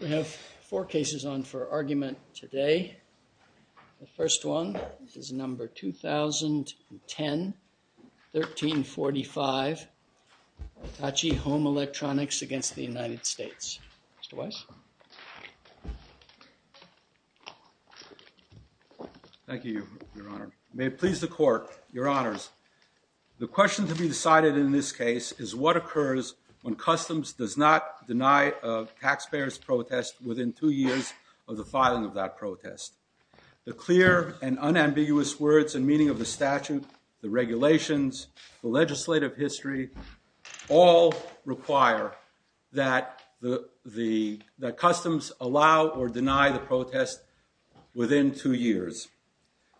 We have four cases on for argument today. The first one is number 2010, 1345, HITACHI HOME ELECTRONICS against the United States. Mr. Weiss? Thank you, Your Honor. May it please the court, Your Honors, the question to be decided in this case is what occurs when customs does not deny a taxpayer's protest within two years of the filing of that protest. The clear and unambiguous words and meaning of the statute, the regulations, the legislative history all require that customs allow or deny the protest within two years.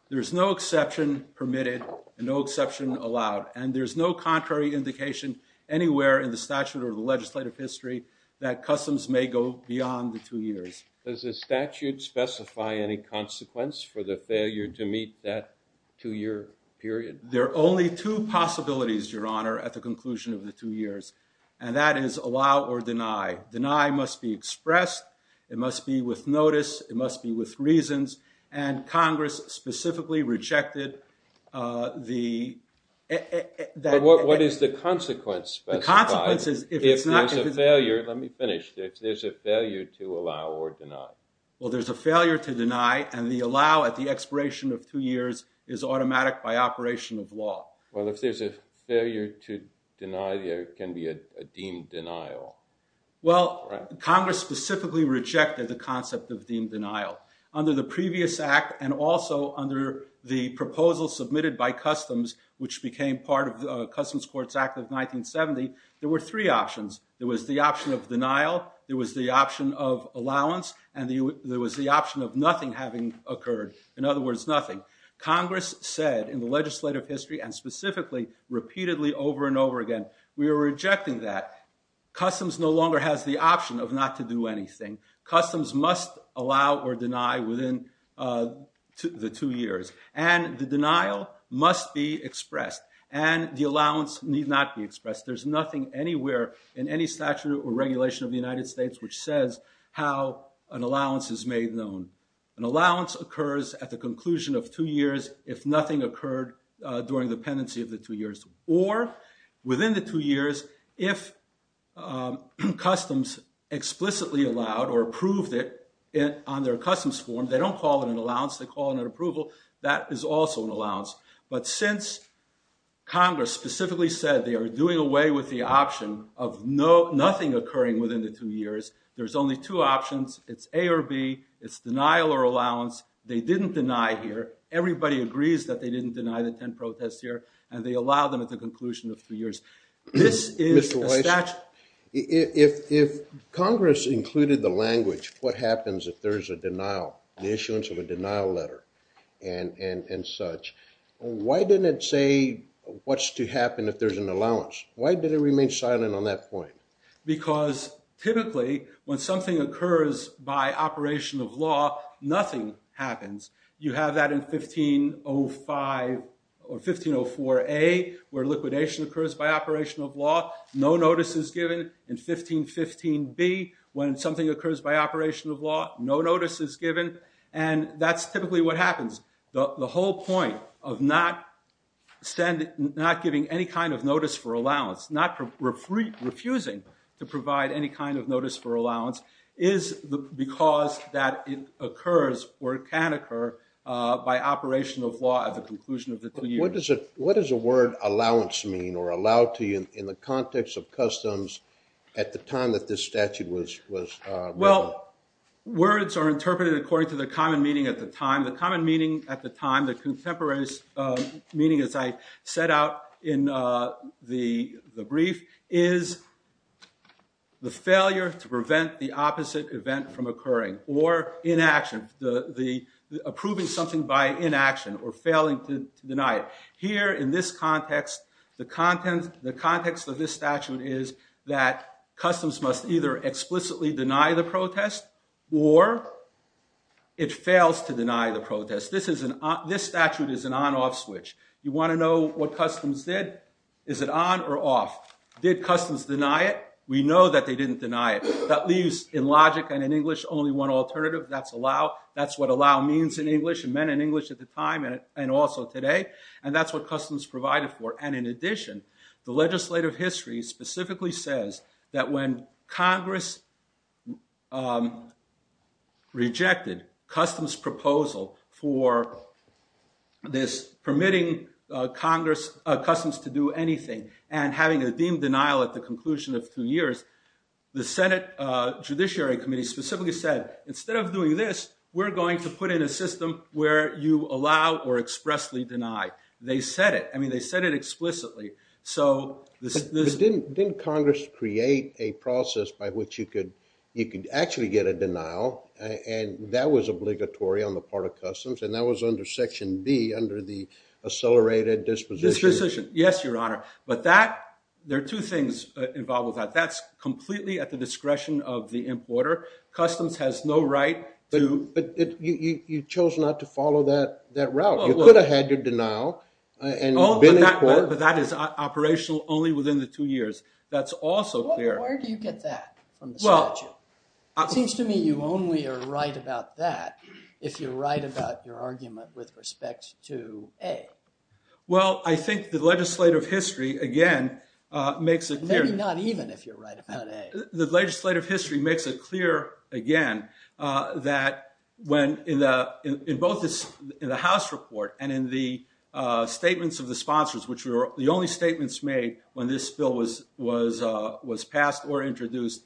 There is no exception permitted and no exception allowed. And there is no contrary indication anywhere in the statute or the legislative history that customs may go beyond the two years. Does the statute specify any consequence for the failure to meet that two-year period? There are only two possibilities, Your Honor, at the conclusion of the two years. And that is allow or deny. Deny must be expressed. It must be with notice. It must be with reasons. And Congress specifically rejected the that. What is the consequence specified? The consequence is if it's not because it's a failure. Let me finish. There's a failure to allow or deny. Well, there's a failure to deny. And the allow at the expiration of two years is automatic by operation of law. Well, if there's a failure to deny, there can be a deemed denial. Well, Congress specifically rejected the concept of deemed denial. Under the previous act and also under the proposal submitted by customs, which became part of the Customs Courts Act of 1970, there were three options. There was the option of denial. There was the option of allowance. And there was the option of nothing having occurred, in other words, nothing. Congress said in the legislative history and specifically repeatedly over and over again, we are rejecting that. Customs no longer has the option of not to do anything. Customs must allow or deny within the two years. And the denial must be expressed. And the allowance need not be expressed. There's nothing anywhere in any statute or regulation of the United States which says how an allowance is made known. An allowance occurs at the conclusion of two years if nothing occurred during the pendency of the two years. Or within the two years, if customs explicitly allowed they don't call it an allowance. They call it an approval. That is also an allowance. But since Congress specifically said they are doing away with the option of nothing occurring within the two years, there's only two options. It's A or B. It's denial or allowance. They didn't deny here. Everybody agrees that they didn't deny the 10 protests here. And they allow them at the conclusion of two years. This is a statute. If Congress included the language, what happens if there is a denial? The issuance of a denial letter and such. Why didn't it say what's to happen if there's an allowance? Why did it remain silent on that point? Because typically, when something occurs by operation of law, nothing happens. You have that in 1504A, where liquidation occurs by operation of law. No notice is given. In 1515B, when something occurs by operation of law, no notice is given. And that's typically what happens. The whole point of not giving any kind of notice for allowance, not refusing to provide any kind of notice for allowance, is because that it occurs, or it can occur, by operation of law at the conclusion of the two years. What does the word allowance mean, or allowed to in the context of customs at the time that this statute was written? Words are interpreted according to the common meaning at the time. The common meaning at the time, the contemporary meaning as I set out in the brief, is the failure to prevent the opposite event from occurring, or inaction, approving something by inaction, or failing to deny it. Here, in this context, the context of this statute is that customs must either explicitly deny the protest, or it fails to deny the protest. This statute is an on-off switch. You want to know what customs did. Is it on or off? Did customs deny it? We know that they didn't deny it. That leaves, in logic and in English, only one alternative. That's allow. That's what allow means in English, and meant in English at the time, and also today. And that's what customs provided for. And in addition, the legislative history specifically says that when Congress rejected customs proposal for this permitting customs to do anything, and having a deemed denial at the conclusion of two years, the Senate Judiciary Committee specifically said, instead of doing this, we're going to put in a system where you allow or expressly deny. They said it. I mean, they said it explicitly. But didn't Congress create a process by which you could actually get a denial? And that was obligatory on the part of customs. And that was under Section B, under the accelerated disposition. Yes, Your Honor. But there are two things involved with that. That's completely at the discretion of the importer. Customs has no right to. But you chose not to follow that route. You could have had your denial and been in court. But that is operational only within the two years. That's also clear. Well, where do you get that from the statute? It seems to me you only are right about that if you're right about your argument with respect to A. Well, I think the legislative history, again, makes it clear. Maybe not even if you're right about A. The legislative history makes it clear, again, that when in both the House report and in the statements of the sponsors, the only statements made when this bill was passed or introduced,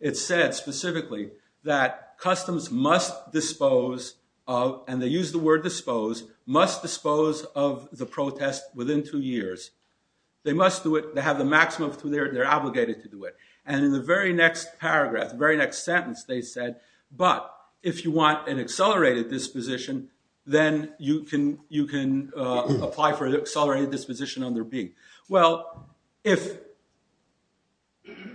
it said specifically that customs must dispose of, and they use the word dispose, must dispose of the protest within two years. They must do it. They have the maximum. They're obligated to do it. And in the very next paragraph, the very next sentence, they said, but if you want an accelerated disposition, then you can apply for an accelerated disposition under B. Well, if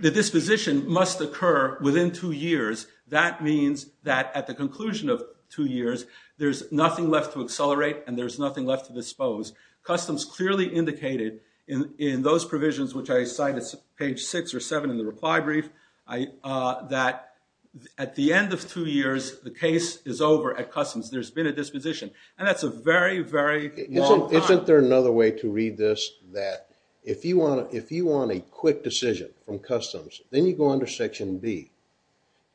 the disposition must occur within two years, that means that at the conclusion of two years, there's nothing left to accelerate, and there's nothing left to dispose. Customs clearly indicated in those provisions, which I cite as page six or seven in the reply brief, that at the end of two years, the case is over at customs. There's been a disposition. And that's a very, very long time. Isn't there another way to read this that if you want a quick decision from customs, then you go under section B.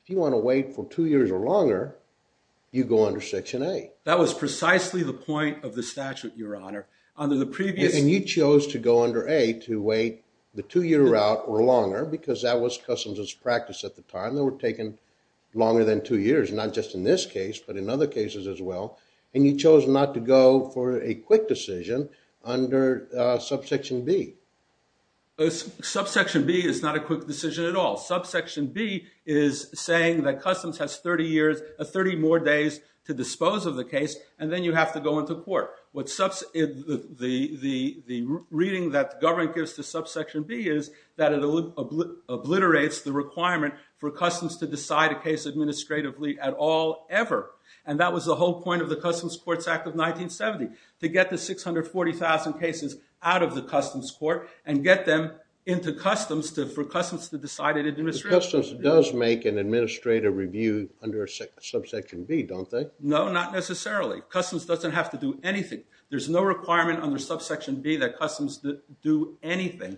If you want to wait for two years or longer, you go under section A. That was precisely the point of the statute, Your Honor. Under the previous. And you chose to go under A to wait the two year route or longer, because that was customs' practice at the time. They were taking longer than two years, not just in this case, but in other cases as well. And you chose not to go for a quick decision under subsection B. Subsection B is not a quick decision at all. Subsection B is saying that customs has 30 more days to dispose of the case, and then you have to go into court. The reading that the government gives to subsection B is that it obliterates the requirement for customs to decide a case administratively at all, ever. And that was the whole point of the Customs Courts Act of 1970, to get the 640,000 cases out of the customs court and get them into customs for customs to decide it administratively. Customs does make an administrative review under subsection B, don't they? No, not necessarily. Customs doesn't have to do anything. There's no requirement under subsection B that customs do anything.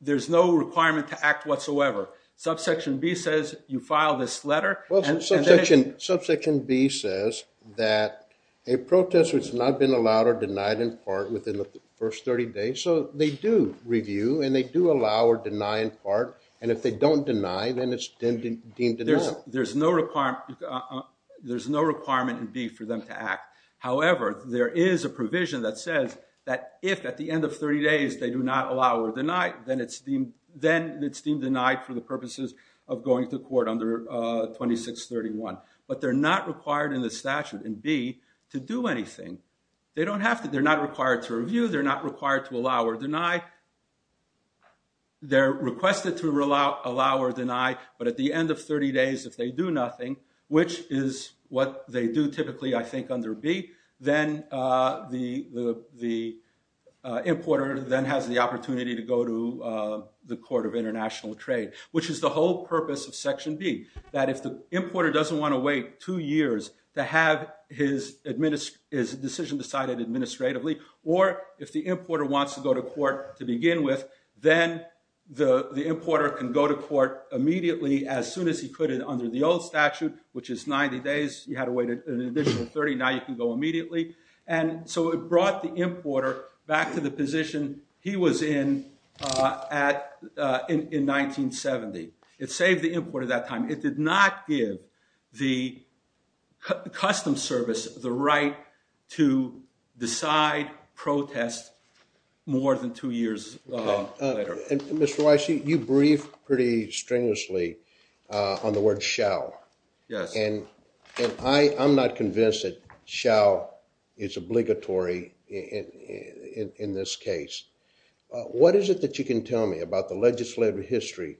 There's no requirement to act whatsoever. Subsection B says, you file this letter, and then it's Subsection B says that a protestor has not been allowed or denied in part within the first 30 days. So they do review, and they do allow or deny in part. And if they don't deny, then it's deemed denied. There's no requirement in B for them to act. However, there is a provision that says that if at the end of 30 days they do not allow or deny, then it's deemed denied for the purposes of going to court under 2631. But they're not required in the statute in B to do anything. They don't have to. They're not required to review. They're not required to allow or deny. They're requested to allow or deny. But at the end of 30 days, if they do nothing, which is what they do typically, I think, under B, then the importer then has the opportunity to go to the Court of International Trade, which is the whole purpose of Section B. That if the importer doesn't want to wait two years to have his decision decided administratively, or if the importer wants to go to court to begin with, then the importer can go to court immediately as soon as he could under the old statute, which is 90 days. You had to wait an additional 30. Now you can go immediately. And so it brought the importer back to the position he was in in 1970. It saved the importer that time. It did not give the Customs Service the right to decide protest more than two years later. Mr. Weiss, you briefed pretty strenuously on the word shall. And I am not convinced that shall is obligatory in this case. What is it that you can tell me about the legislative history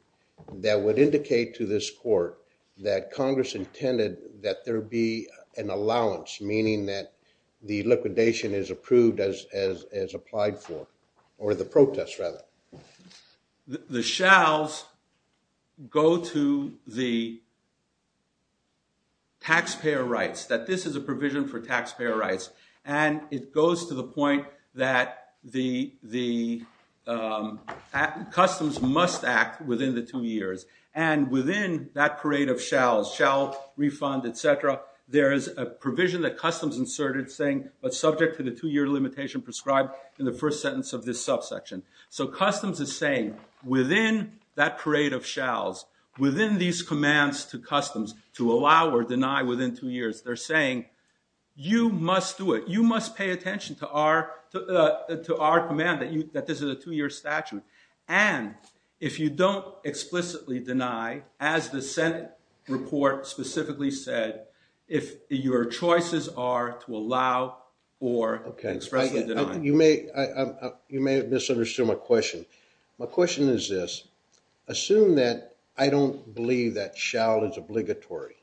that would indicate to this court that Congress intended that there be an allowance, meaning that the liquidation is approved as applied for, or the protest, rather? The shalls go to the taxpayer rights, that this is a provision for taxpayer rights. And it goes to the point that the Customs must act within the two years. And within that parade of shalls, shall refund, et cetera, there is a provision that Customs inserted saying, but subject to the two year limitation prescribed in the first sentence of this subsection. So Customs is saying, within that parade of shalls, within these commands to Customs to allow or deny within two years, they're saying, you must do it. You must pay attention to our command that this is a two year statute. And if you don't explicitly deny, as the Senate report specifically said, if your choices are to allow or expressly deny. You may have misunderstood my question. My question is this. Assume that I don't believe that shall is obligatory,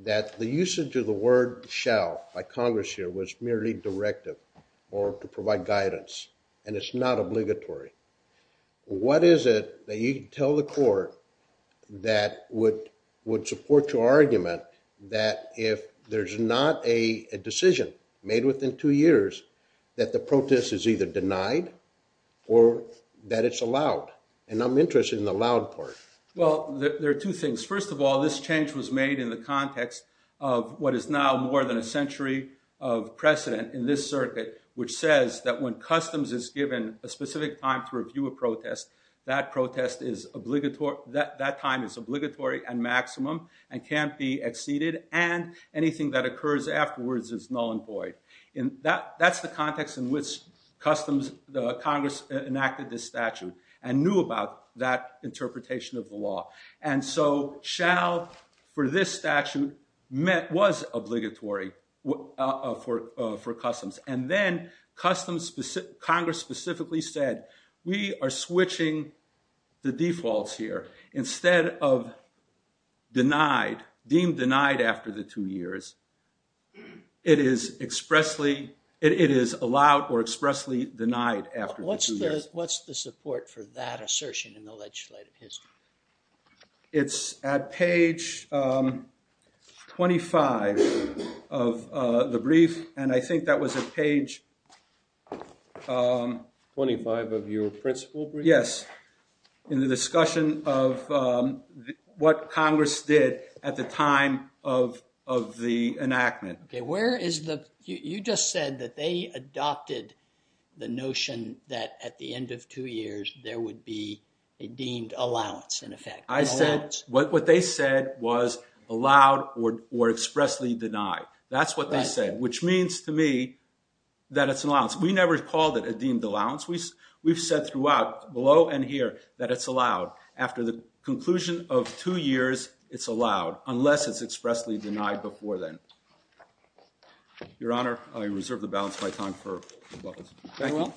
that the usage of the word shall by Congress here was merely directive or to provide guidance. And it's not obligatory. What is it that you can tell the court that would support your argument that if there's not a decision made within two years, that the protest is either denied or that it's allowed? And I'm interested in the allowed part. Well, there are two things. First of all, this change was made in the context of what is now more than a century of precedent in this circuit, which says that when Customs is given a specific time to review a protest, that time is obligatory and maximum and can't be exceeded. And anything that occurs afterwards is null and void. That's the context in which Congress enacted this statute and knew about that interpretation of the law. And so shall for this statute was obligatory for Customs. And then Congress specifically said, we are switching the defaults here. Instead of denied, deemed denied after the two years, it is expressly allowed or expressly denied after the two years. What's the support for that assertion in the legislative history? It's at page 25 of the brief. And I think that was at page 25 of your principal brief? Yes, in the discussion of what Congress did at the time of the enactment. You just said that they adopted the notion that at the end of two years, there would be a deemed allowance, in effect. I said what they said was allowed or expressly denied. That's what they said, which means to me that it's an allowance. We never called it a deemed allowance. We've said throughout, below and here, that it's allowed after the conclusion of two years, it's allowed, unless it's expressly denied before then. Your Honor, I reserve the balance of my time for rebuttals. Thank you.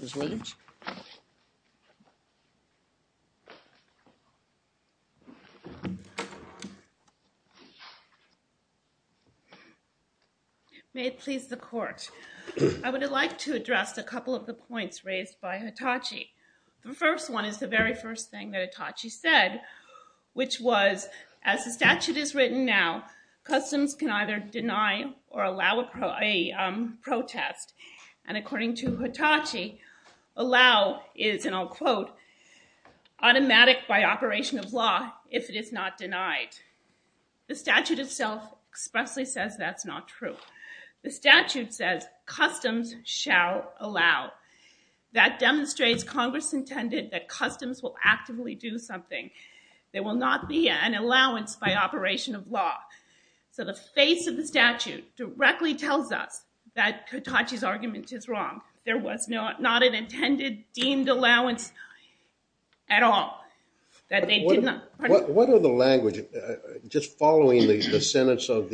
Ms. Williams? May it please the court. I would like to address a couple of the points raised by Hitachi. The first one is the very first thing that Hitachi said, which was, as the statute is written now, customs can either deny or allow a protest. And according to Hitachi, allow is, and I'll quote, automatic by operation of law if it is not denied. The statute itself expressly says that's not true. The statute says customs shall allow. That demonstrates Congress intended that customs will actively do something. There will not be an allowance by operation of law. So the face of the statute directly tells us that Hitachi's argument is wrong. There was not an intended, deemed allowance at all, that they did not. What are the language, just following the sentence of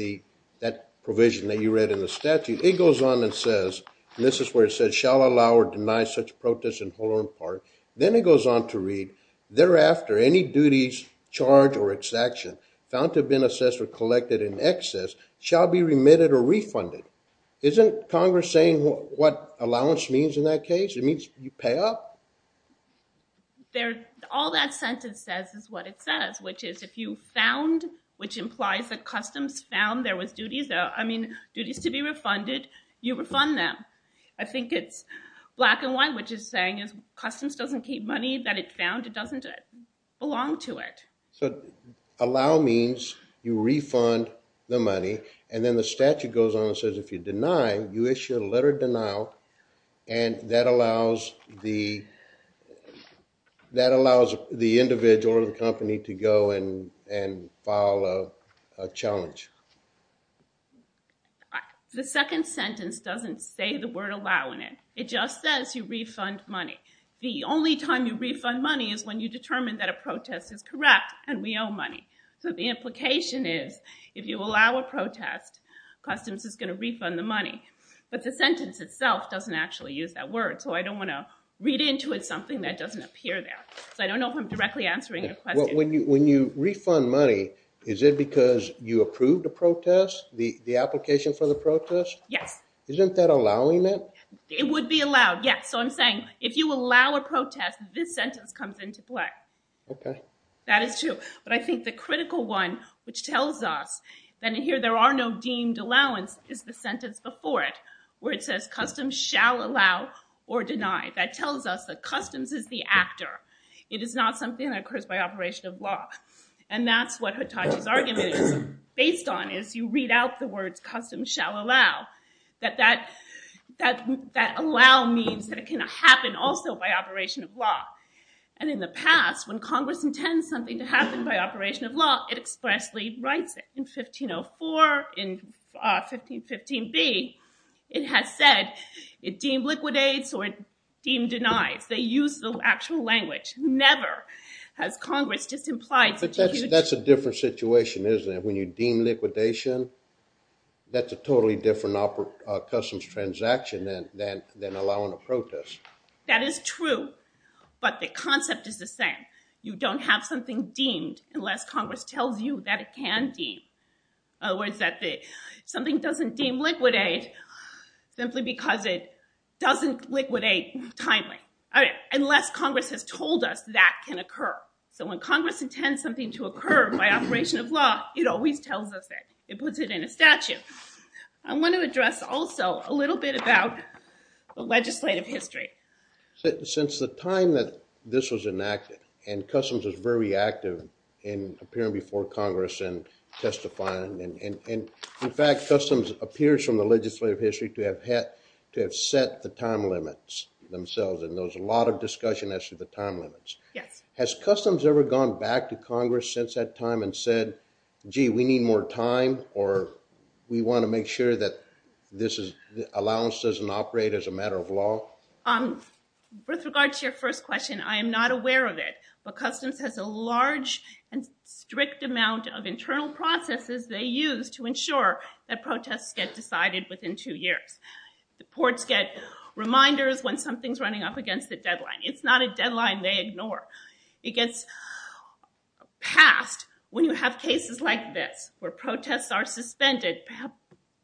that provision that you read in the statute, it goes on and says, and this is where it says, shall allow or deny such protest in whole or in part. Then it goes on to read, thereafter, any duties, charge, or exaction found to have been assessed or collected in excess shall be remitted or refunded. Isn't Congress saying what allowance means in that case? It means you pay up. All that sentence says is what it says, which is if you found, which implies that customs found, there was duties, I mean, duties to be refunded, you refund them. I think it's black and white, which is saying is customs doesn't keep money that it found, it doesn't belong to it. So allow means you refund the money, and then the statute goes on and says if you deny, you issue a letter of denial, and that allows the individual or the company to go and file a challenge. The second sentence doesn't say the word allow in it. It just says you refund money. The only time you refund money is when you determine that a protest is correct and we owe money. So the implication is if you allow a protest, customs is going to refund the money. But the sentence itself doesn't actually use that word, so I don't want to read into it something that doesn't appear there. So I don't know if I'm directly answering your question. When you refund money, is it because you approved the protest, the application for the protest? Yes. Isn't that allowing it? It would be allowed, yes. So I'm saying if you allow a protest, this sentence comes into play. That is true. But I think the critical one, which tells us that in here there are no deemed allowance, is the sentence before it, where it says customs shall allow or deny. That tells us that customs is the actor. It is not something that occurs by operation of law. And that's what Hitachi's argument is based on, is you read out the words customs shall allow, that that allow means that it can happen also by operation of law. And in the past, when Congress intends something to happen by operation of law, it expressly writes it. In 1504, in 1515b, it has said it deemed liquidates or it deemed denies. They use the actual language. Never has Congress just implied such a huge. But that's a different situation, isn't it? When you deem liquidation, that's a totally different customs transaction than allowing a protest. That is true, but the concept is the same. You don't have something deemed unless Congress tells you that it can deem. In other words, something doesn't deem liquidate simply because it doesn't liquidate timely, unless Congress has told us that can occur. So when Congress intends something to occur by operation of law, it always tells us that. It puts it in a statute. I want to address also a little bit about the legislative history. Since the time that this was enacted, and Customs was very active in appearing before Congress and testifying, and in fact, Customs appears from the legislative history to have set the time limits themselves. And there was a lot of discussion as to the time limits. Has Customs ever gone back to Congress since that time and said, gee, we need more time, or we want to make sure that this allowance doesn't operate as a matter of law? With regard to your first question, I am not aware of it. But Customs has a large and strict amount of internal processes they use to ensure that protests get decided within two years. The courts get reminders when something's running up against the deadline. It's not a deadline they ignore. It gets passed when you have cases like this, where protests are suspended,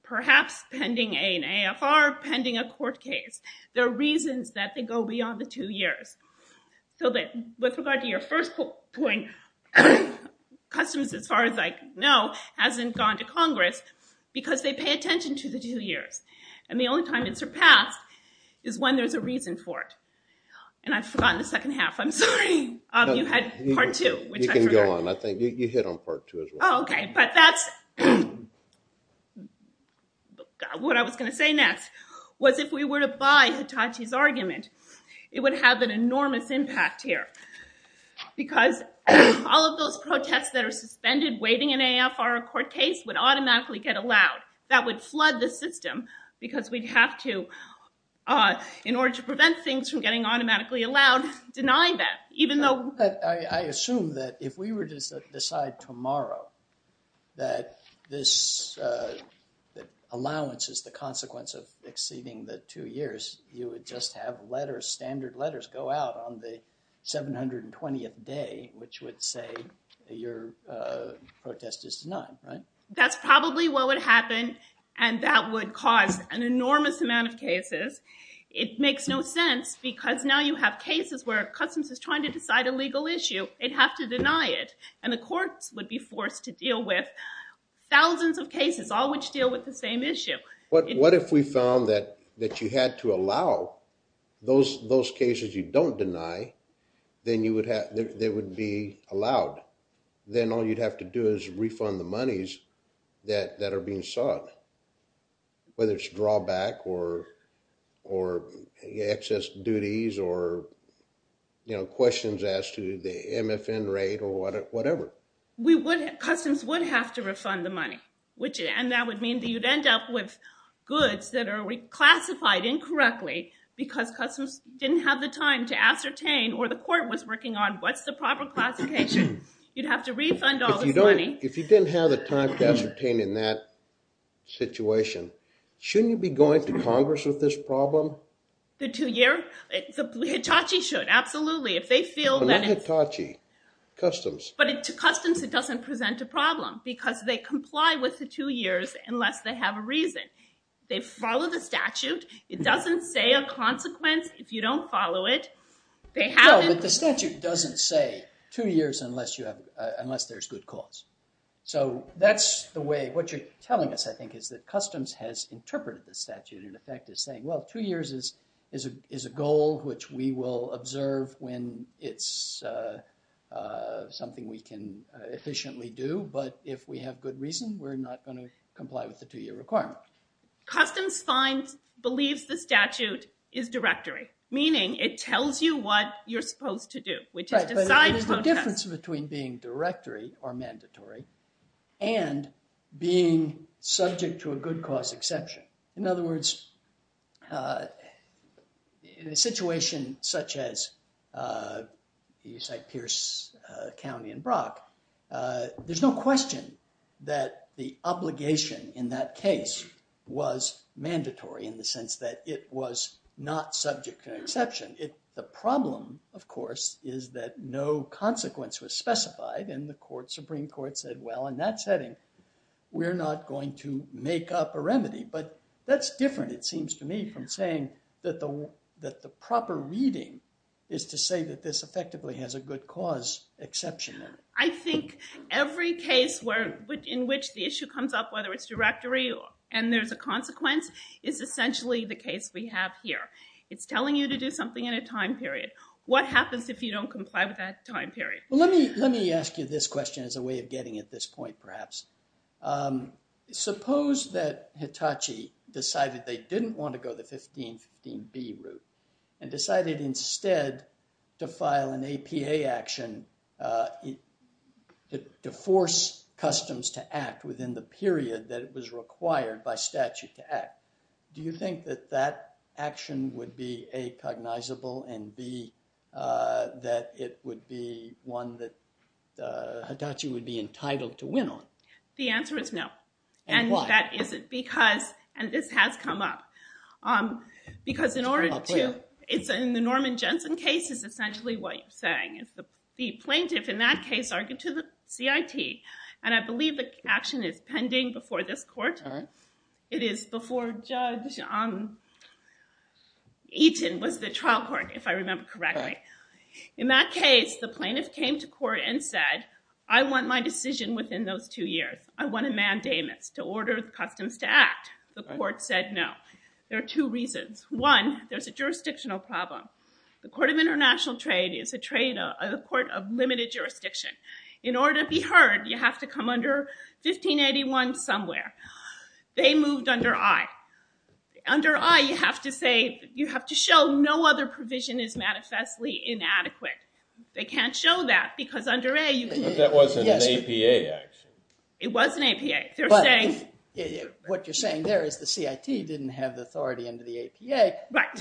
perhaps pending an AFR, pending a court case. There are reasons that they go beyond the two years. So with regard to your first point, Customs, as far as I know, hasn't gone to Congress because they pay attention to the two years. And the only time it's surpassed is when there's a reason for it. And I've forgotten the second half. I'm sorry. You had part two, which I forgot. You can go on. I think you hit on part two as well. Oh, OK. But that's what I was going to say next, was if we were to buy Hitachi's argument, it would have an enormous impact here. Because all of those protests that are suspended, waiting an AFR, a court case, would automatically get allowed. That would flood the system, because we'd have to, in order to prevent things from getting automatically allowed, deny that, even though we would. I assume that if we were to decide tomorrow that this allowance is the consequence of exceeding the two years, you would just have letters, standard letters, go out on the 720th day, which would say your protest is denied, right? That's probably what would happen. And that would cause an enormous amount of cases. It makes no sense, because now you have cases where Customs is trying to decide a legal issue. They'd have to deny it. And the courts would be forced to deal with thousands of cases, all which deal with the same issue. But what if we found that you had to allow those cases you don't deny, then they would be allowed? Then all you'd have to do is refund the monies that are being sought, whether it's drawback, or excess duties, or questions as to the MFN rate, or whatever. Customs would have to refund the money. And that would mean that you'd end up with goods that are reclassified incorrectly, because Customs didn't have the time to ascertain, or the court was working on, what's the proper classification? You'd have to refund all this money. If you didn't have the time to ascertain in that situation, shouldn't you be going to Congress with this problem? The two year? Hitachi should, absolutely. If they feel that it's- But not Hitachi, Customs. But to Customs, it doesn't present a problem, because they comply with the two years unless they have a reason. They follow the statute. It doesn't say a consequence if you don't follow it. They haven't- No, but the statute doesn't say two years unless there's good cause. So that's the way, what you're telling us, I think, is that Customs has interpreted the statute, in effect, as saying, well, two years is a goal which we will observe when it's something we can efficiently do. But if we have good reason, we're not going to comply with the two year requirement. Customs believes the statute is directory, meaning it tells you what you're supposed to do, which is decide protest. But there's a difference between being directory, or mandatory, and being subject to a good cause exception. In other words, in a situation such as you cite Pierce County and Brock, there's no question that the obligation in that case was mandatory in the sense that it was not subject to an exception. The problem, of course, is that no consequence was specified. And the Supreme Court said, well, in that setting, we're not going to make up a remedy. But that's different, it seems to me, from saying that the proper reading is to say that this effectively has a good cause exception in it. I think every case in which the issue comes up, whether it's directory and there's a consequence, is essentially the case we have here. It's telling you to do something in a time period. What happens if you don't comply with that time period? as a way of getting at this point, perhaps. Suppose that Hitachi decided they didn't want to go the 1515B route and decided instead to file an APA action to force customs to act within the period that it was required by statute to act. Do you think that that action would be A, cognizable, and B, that it would be one that Hitachi would be entitled to win on? The answer is no. And why? That is because, and this has come up, because in the Norman Jensen case, it's essentially what you're saying. The plaintiff in that case argued to the CIT. And I believe the action is pending before this court. It is before Judge Eaton was the trial court, if I remember correctly. In that case, the plaintiff came to court and said, I want my decision within those two years. I want a mandamus to order the customs to act. The court said no. There are two reasons. One, there's a jurisdictional problem. The Court of International Trade is a court of limited jurisdiction. In order to be heard, you have to come under 1581 somewhere. They moved under I. Under I, you have to show no other provision is manifestly inadequate. They can't show that because under A, you can't. That wasn't an APA action. It was an APA. What you're saying there is the CIT didn't have the authority under the APA.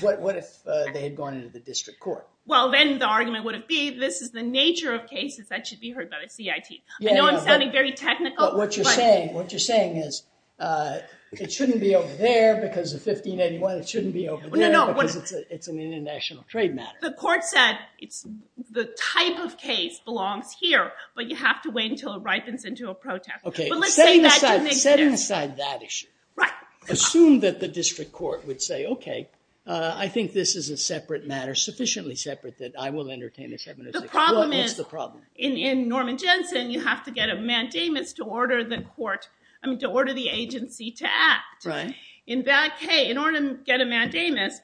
What if they had gone into the district court? Well, then the argument would be this is the nature of cases that should be heard by the CIT. I know I'm sounding very technical. But what you're saying is it shouldn't be over there because of 1581. It shouldn't be over there because it's an international trade matter. The court said the type of case belongs here. But you have to wait until it ripens into a protect. OK, setting aside that issue, assume that the district court would say, OK, I think this is a separate matter, sufficiently separate that I will entertain this evidence. The problem is in Norman Jensen, you have to get a mandamus to order the agency to act. In that case, in order to get a mandamus,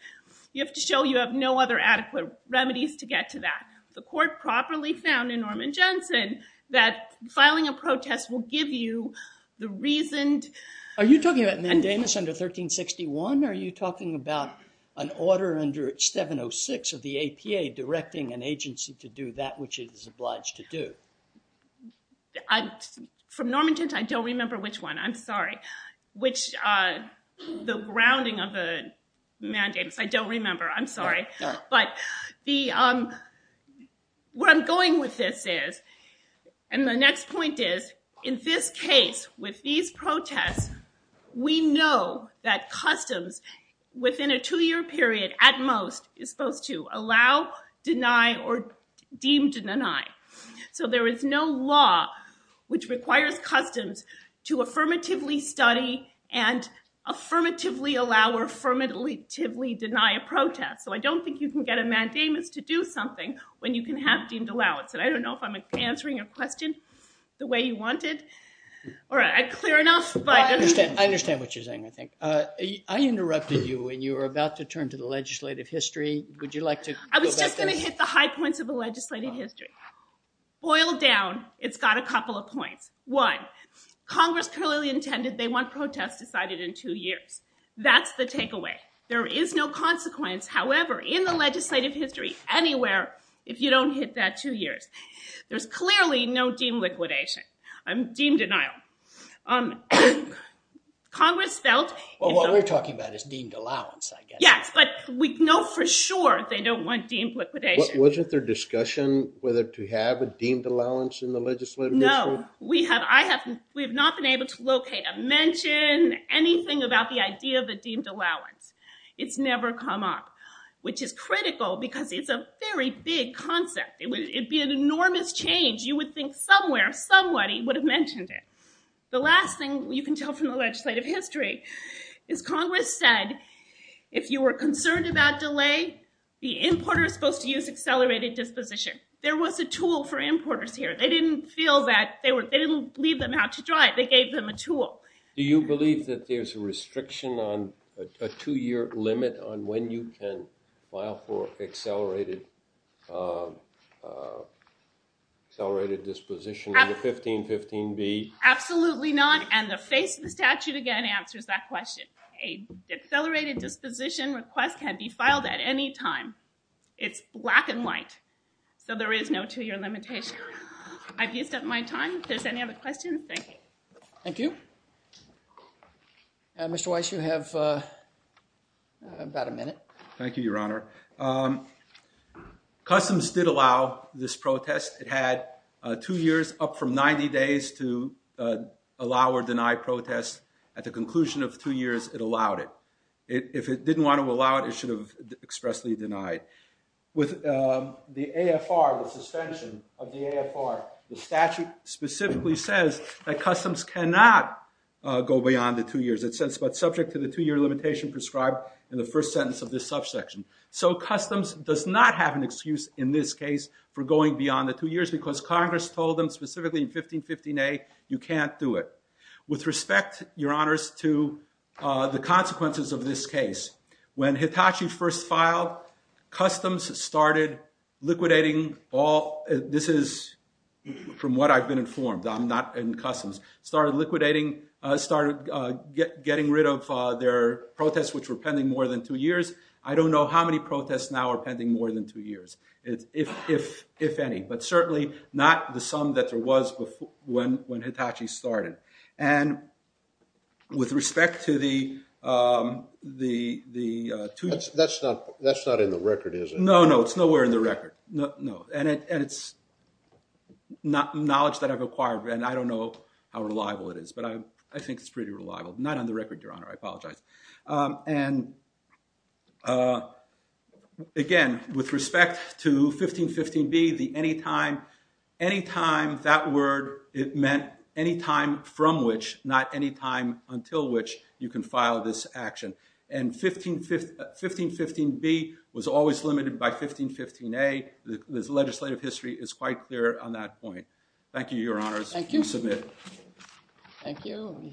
you have to show you have no other adequate remedies to get to that. The court properly found in Norman Jensen that filing a protest will give you the reasoned. Are you talking about mandamus under 1361? Or are you talking about an order under 706 of the APA directing an agency to do that which it is obliged to do? From Norman Jensen, I don't remember which one. I'm sorry. Which the grounding of the mandamus, I don't remember. I'm sorry. But where I'm going with this is, and the next point is, in this case, with these protests, we know that customs, within a two-year period at most, is supposed to allow, deny, or deem to deny. So there is no law which requires customs to affirmatively study and affirmatively allow or affirmatively deny a protest. So I don't think you can get a mandamus to do something when you can have deemed allowance. And I don't know if I'm answering your question the way you wanted. All right, I'm clear enough, but I don't know. I understand what you're saying, I think. I interrupted you when you were about to turn to the legislative history. Would you like to go back there? I was just going to hit the high points of the legislative history. Boiled down, it's got a couple of points. One, Congress clearly intended they want protests decided in two years. That's the takeaway. There is no consequence, however, in the legislative history anywhere if you don't hit that two years. There's clearly no deemed liquidation, deemed denial. Congress felt- Well, what we're talking about is deemed allowance, I guess. Yes, but we know for sure they don't want deemed liquidation. Wasn't there discussion whether to have a deemed allowance in the legislative history? We have not been able to locate a mention, anything about the idea of a deemed allowance. It's never come up, which is critical because it's a very big concept. It would be an enormous change. You would think somewhere, somebody would have mentioned it. The last thing you can tell from the legislative history is Congress said, if you were concerned about delay, the importer is supposed to use accelerated disposition. There was a tool for importers here. They didn't feel that they were- They didn't leave them out to dry. They gave them a tool. Do you believe that there's a restriction on a two-year limit on when you can file for accelerated disposition under 1515B? Absolutely not, and the face of the statute, again, answers that question. An accelerated disposition request can be filed at any time. It's black and white, so there is no two-year limitation. I've used up my time. If there's any other questions, thank you. Thank you. Mr. Weiss, you have about a minute. Thank you, Your Honor. Customs did allow this protest. It had two years, up from 90 days, to allow or deny protests. At the conclusion of two years, it allowed it. If it didn't want to allow it, it should have expressly denied. With the AFR, the suspension of the AFR, the statute specifically says that Customs cannot go beyond the two years. It says, but subject to the two-year limitation prescribed in the first sentence of this subsection. So Customs does not have an excuse, in this case, for going beyond the two years because Congress told them, specifically in 1515A, you can't do it. With respect, Your Honors, to the consequences of this case, when Hitachi first filed, Customs started liquidating all, this is from what I've been informed, I'm not in Customs, started liquidating, started getting rid of their protests which were pending more than two years. I don't know how many protests now are pending more than two years, if any, but certainly not the sum that there was when Hitachi started. And with respect to the two-year- That's not in the record, is it? No, no, it's nowhere in the record, no. And it's not knowledge that I've acquired, and I don't know how reliable it is, but I think it's pretty reliable. Not on the record, Your Honor, I apologize. And again, with respect to 1515B, the anytime, anytime, that word, it meant any time from which, not any time until which you can file this action. And 1515B was always limited by 1515A. The legislative history is quite clear on that point. Thank you, Your Honors. Thank you. You may submit. Thank you.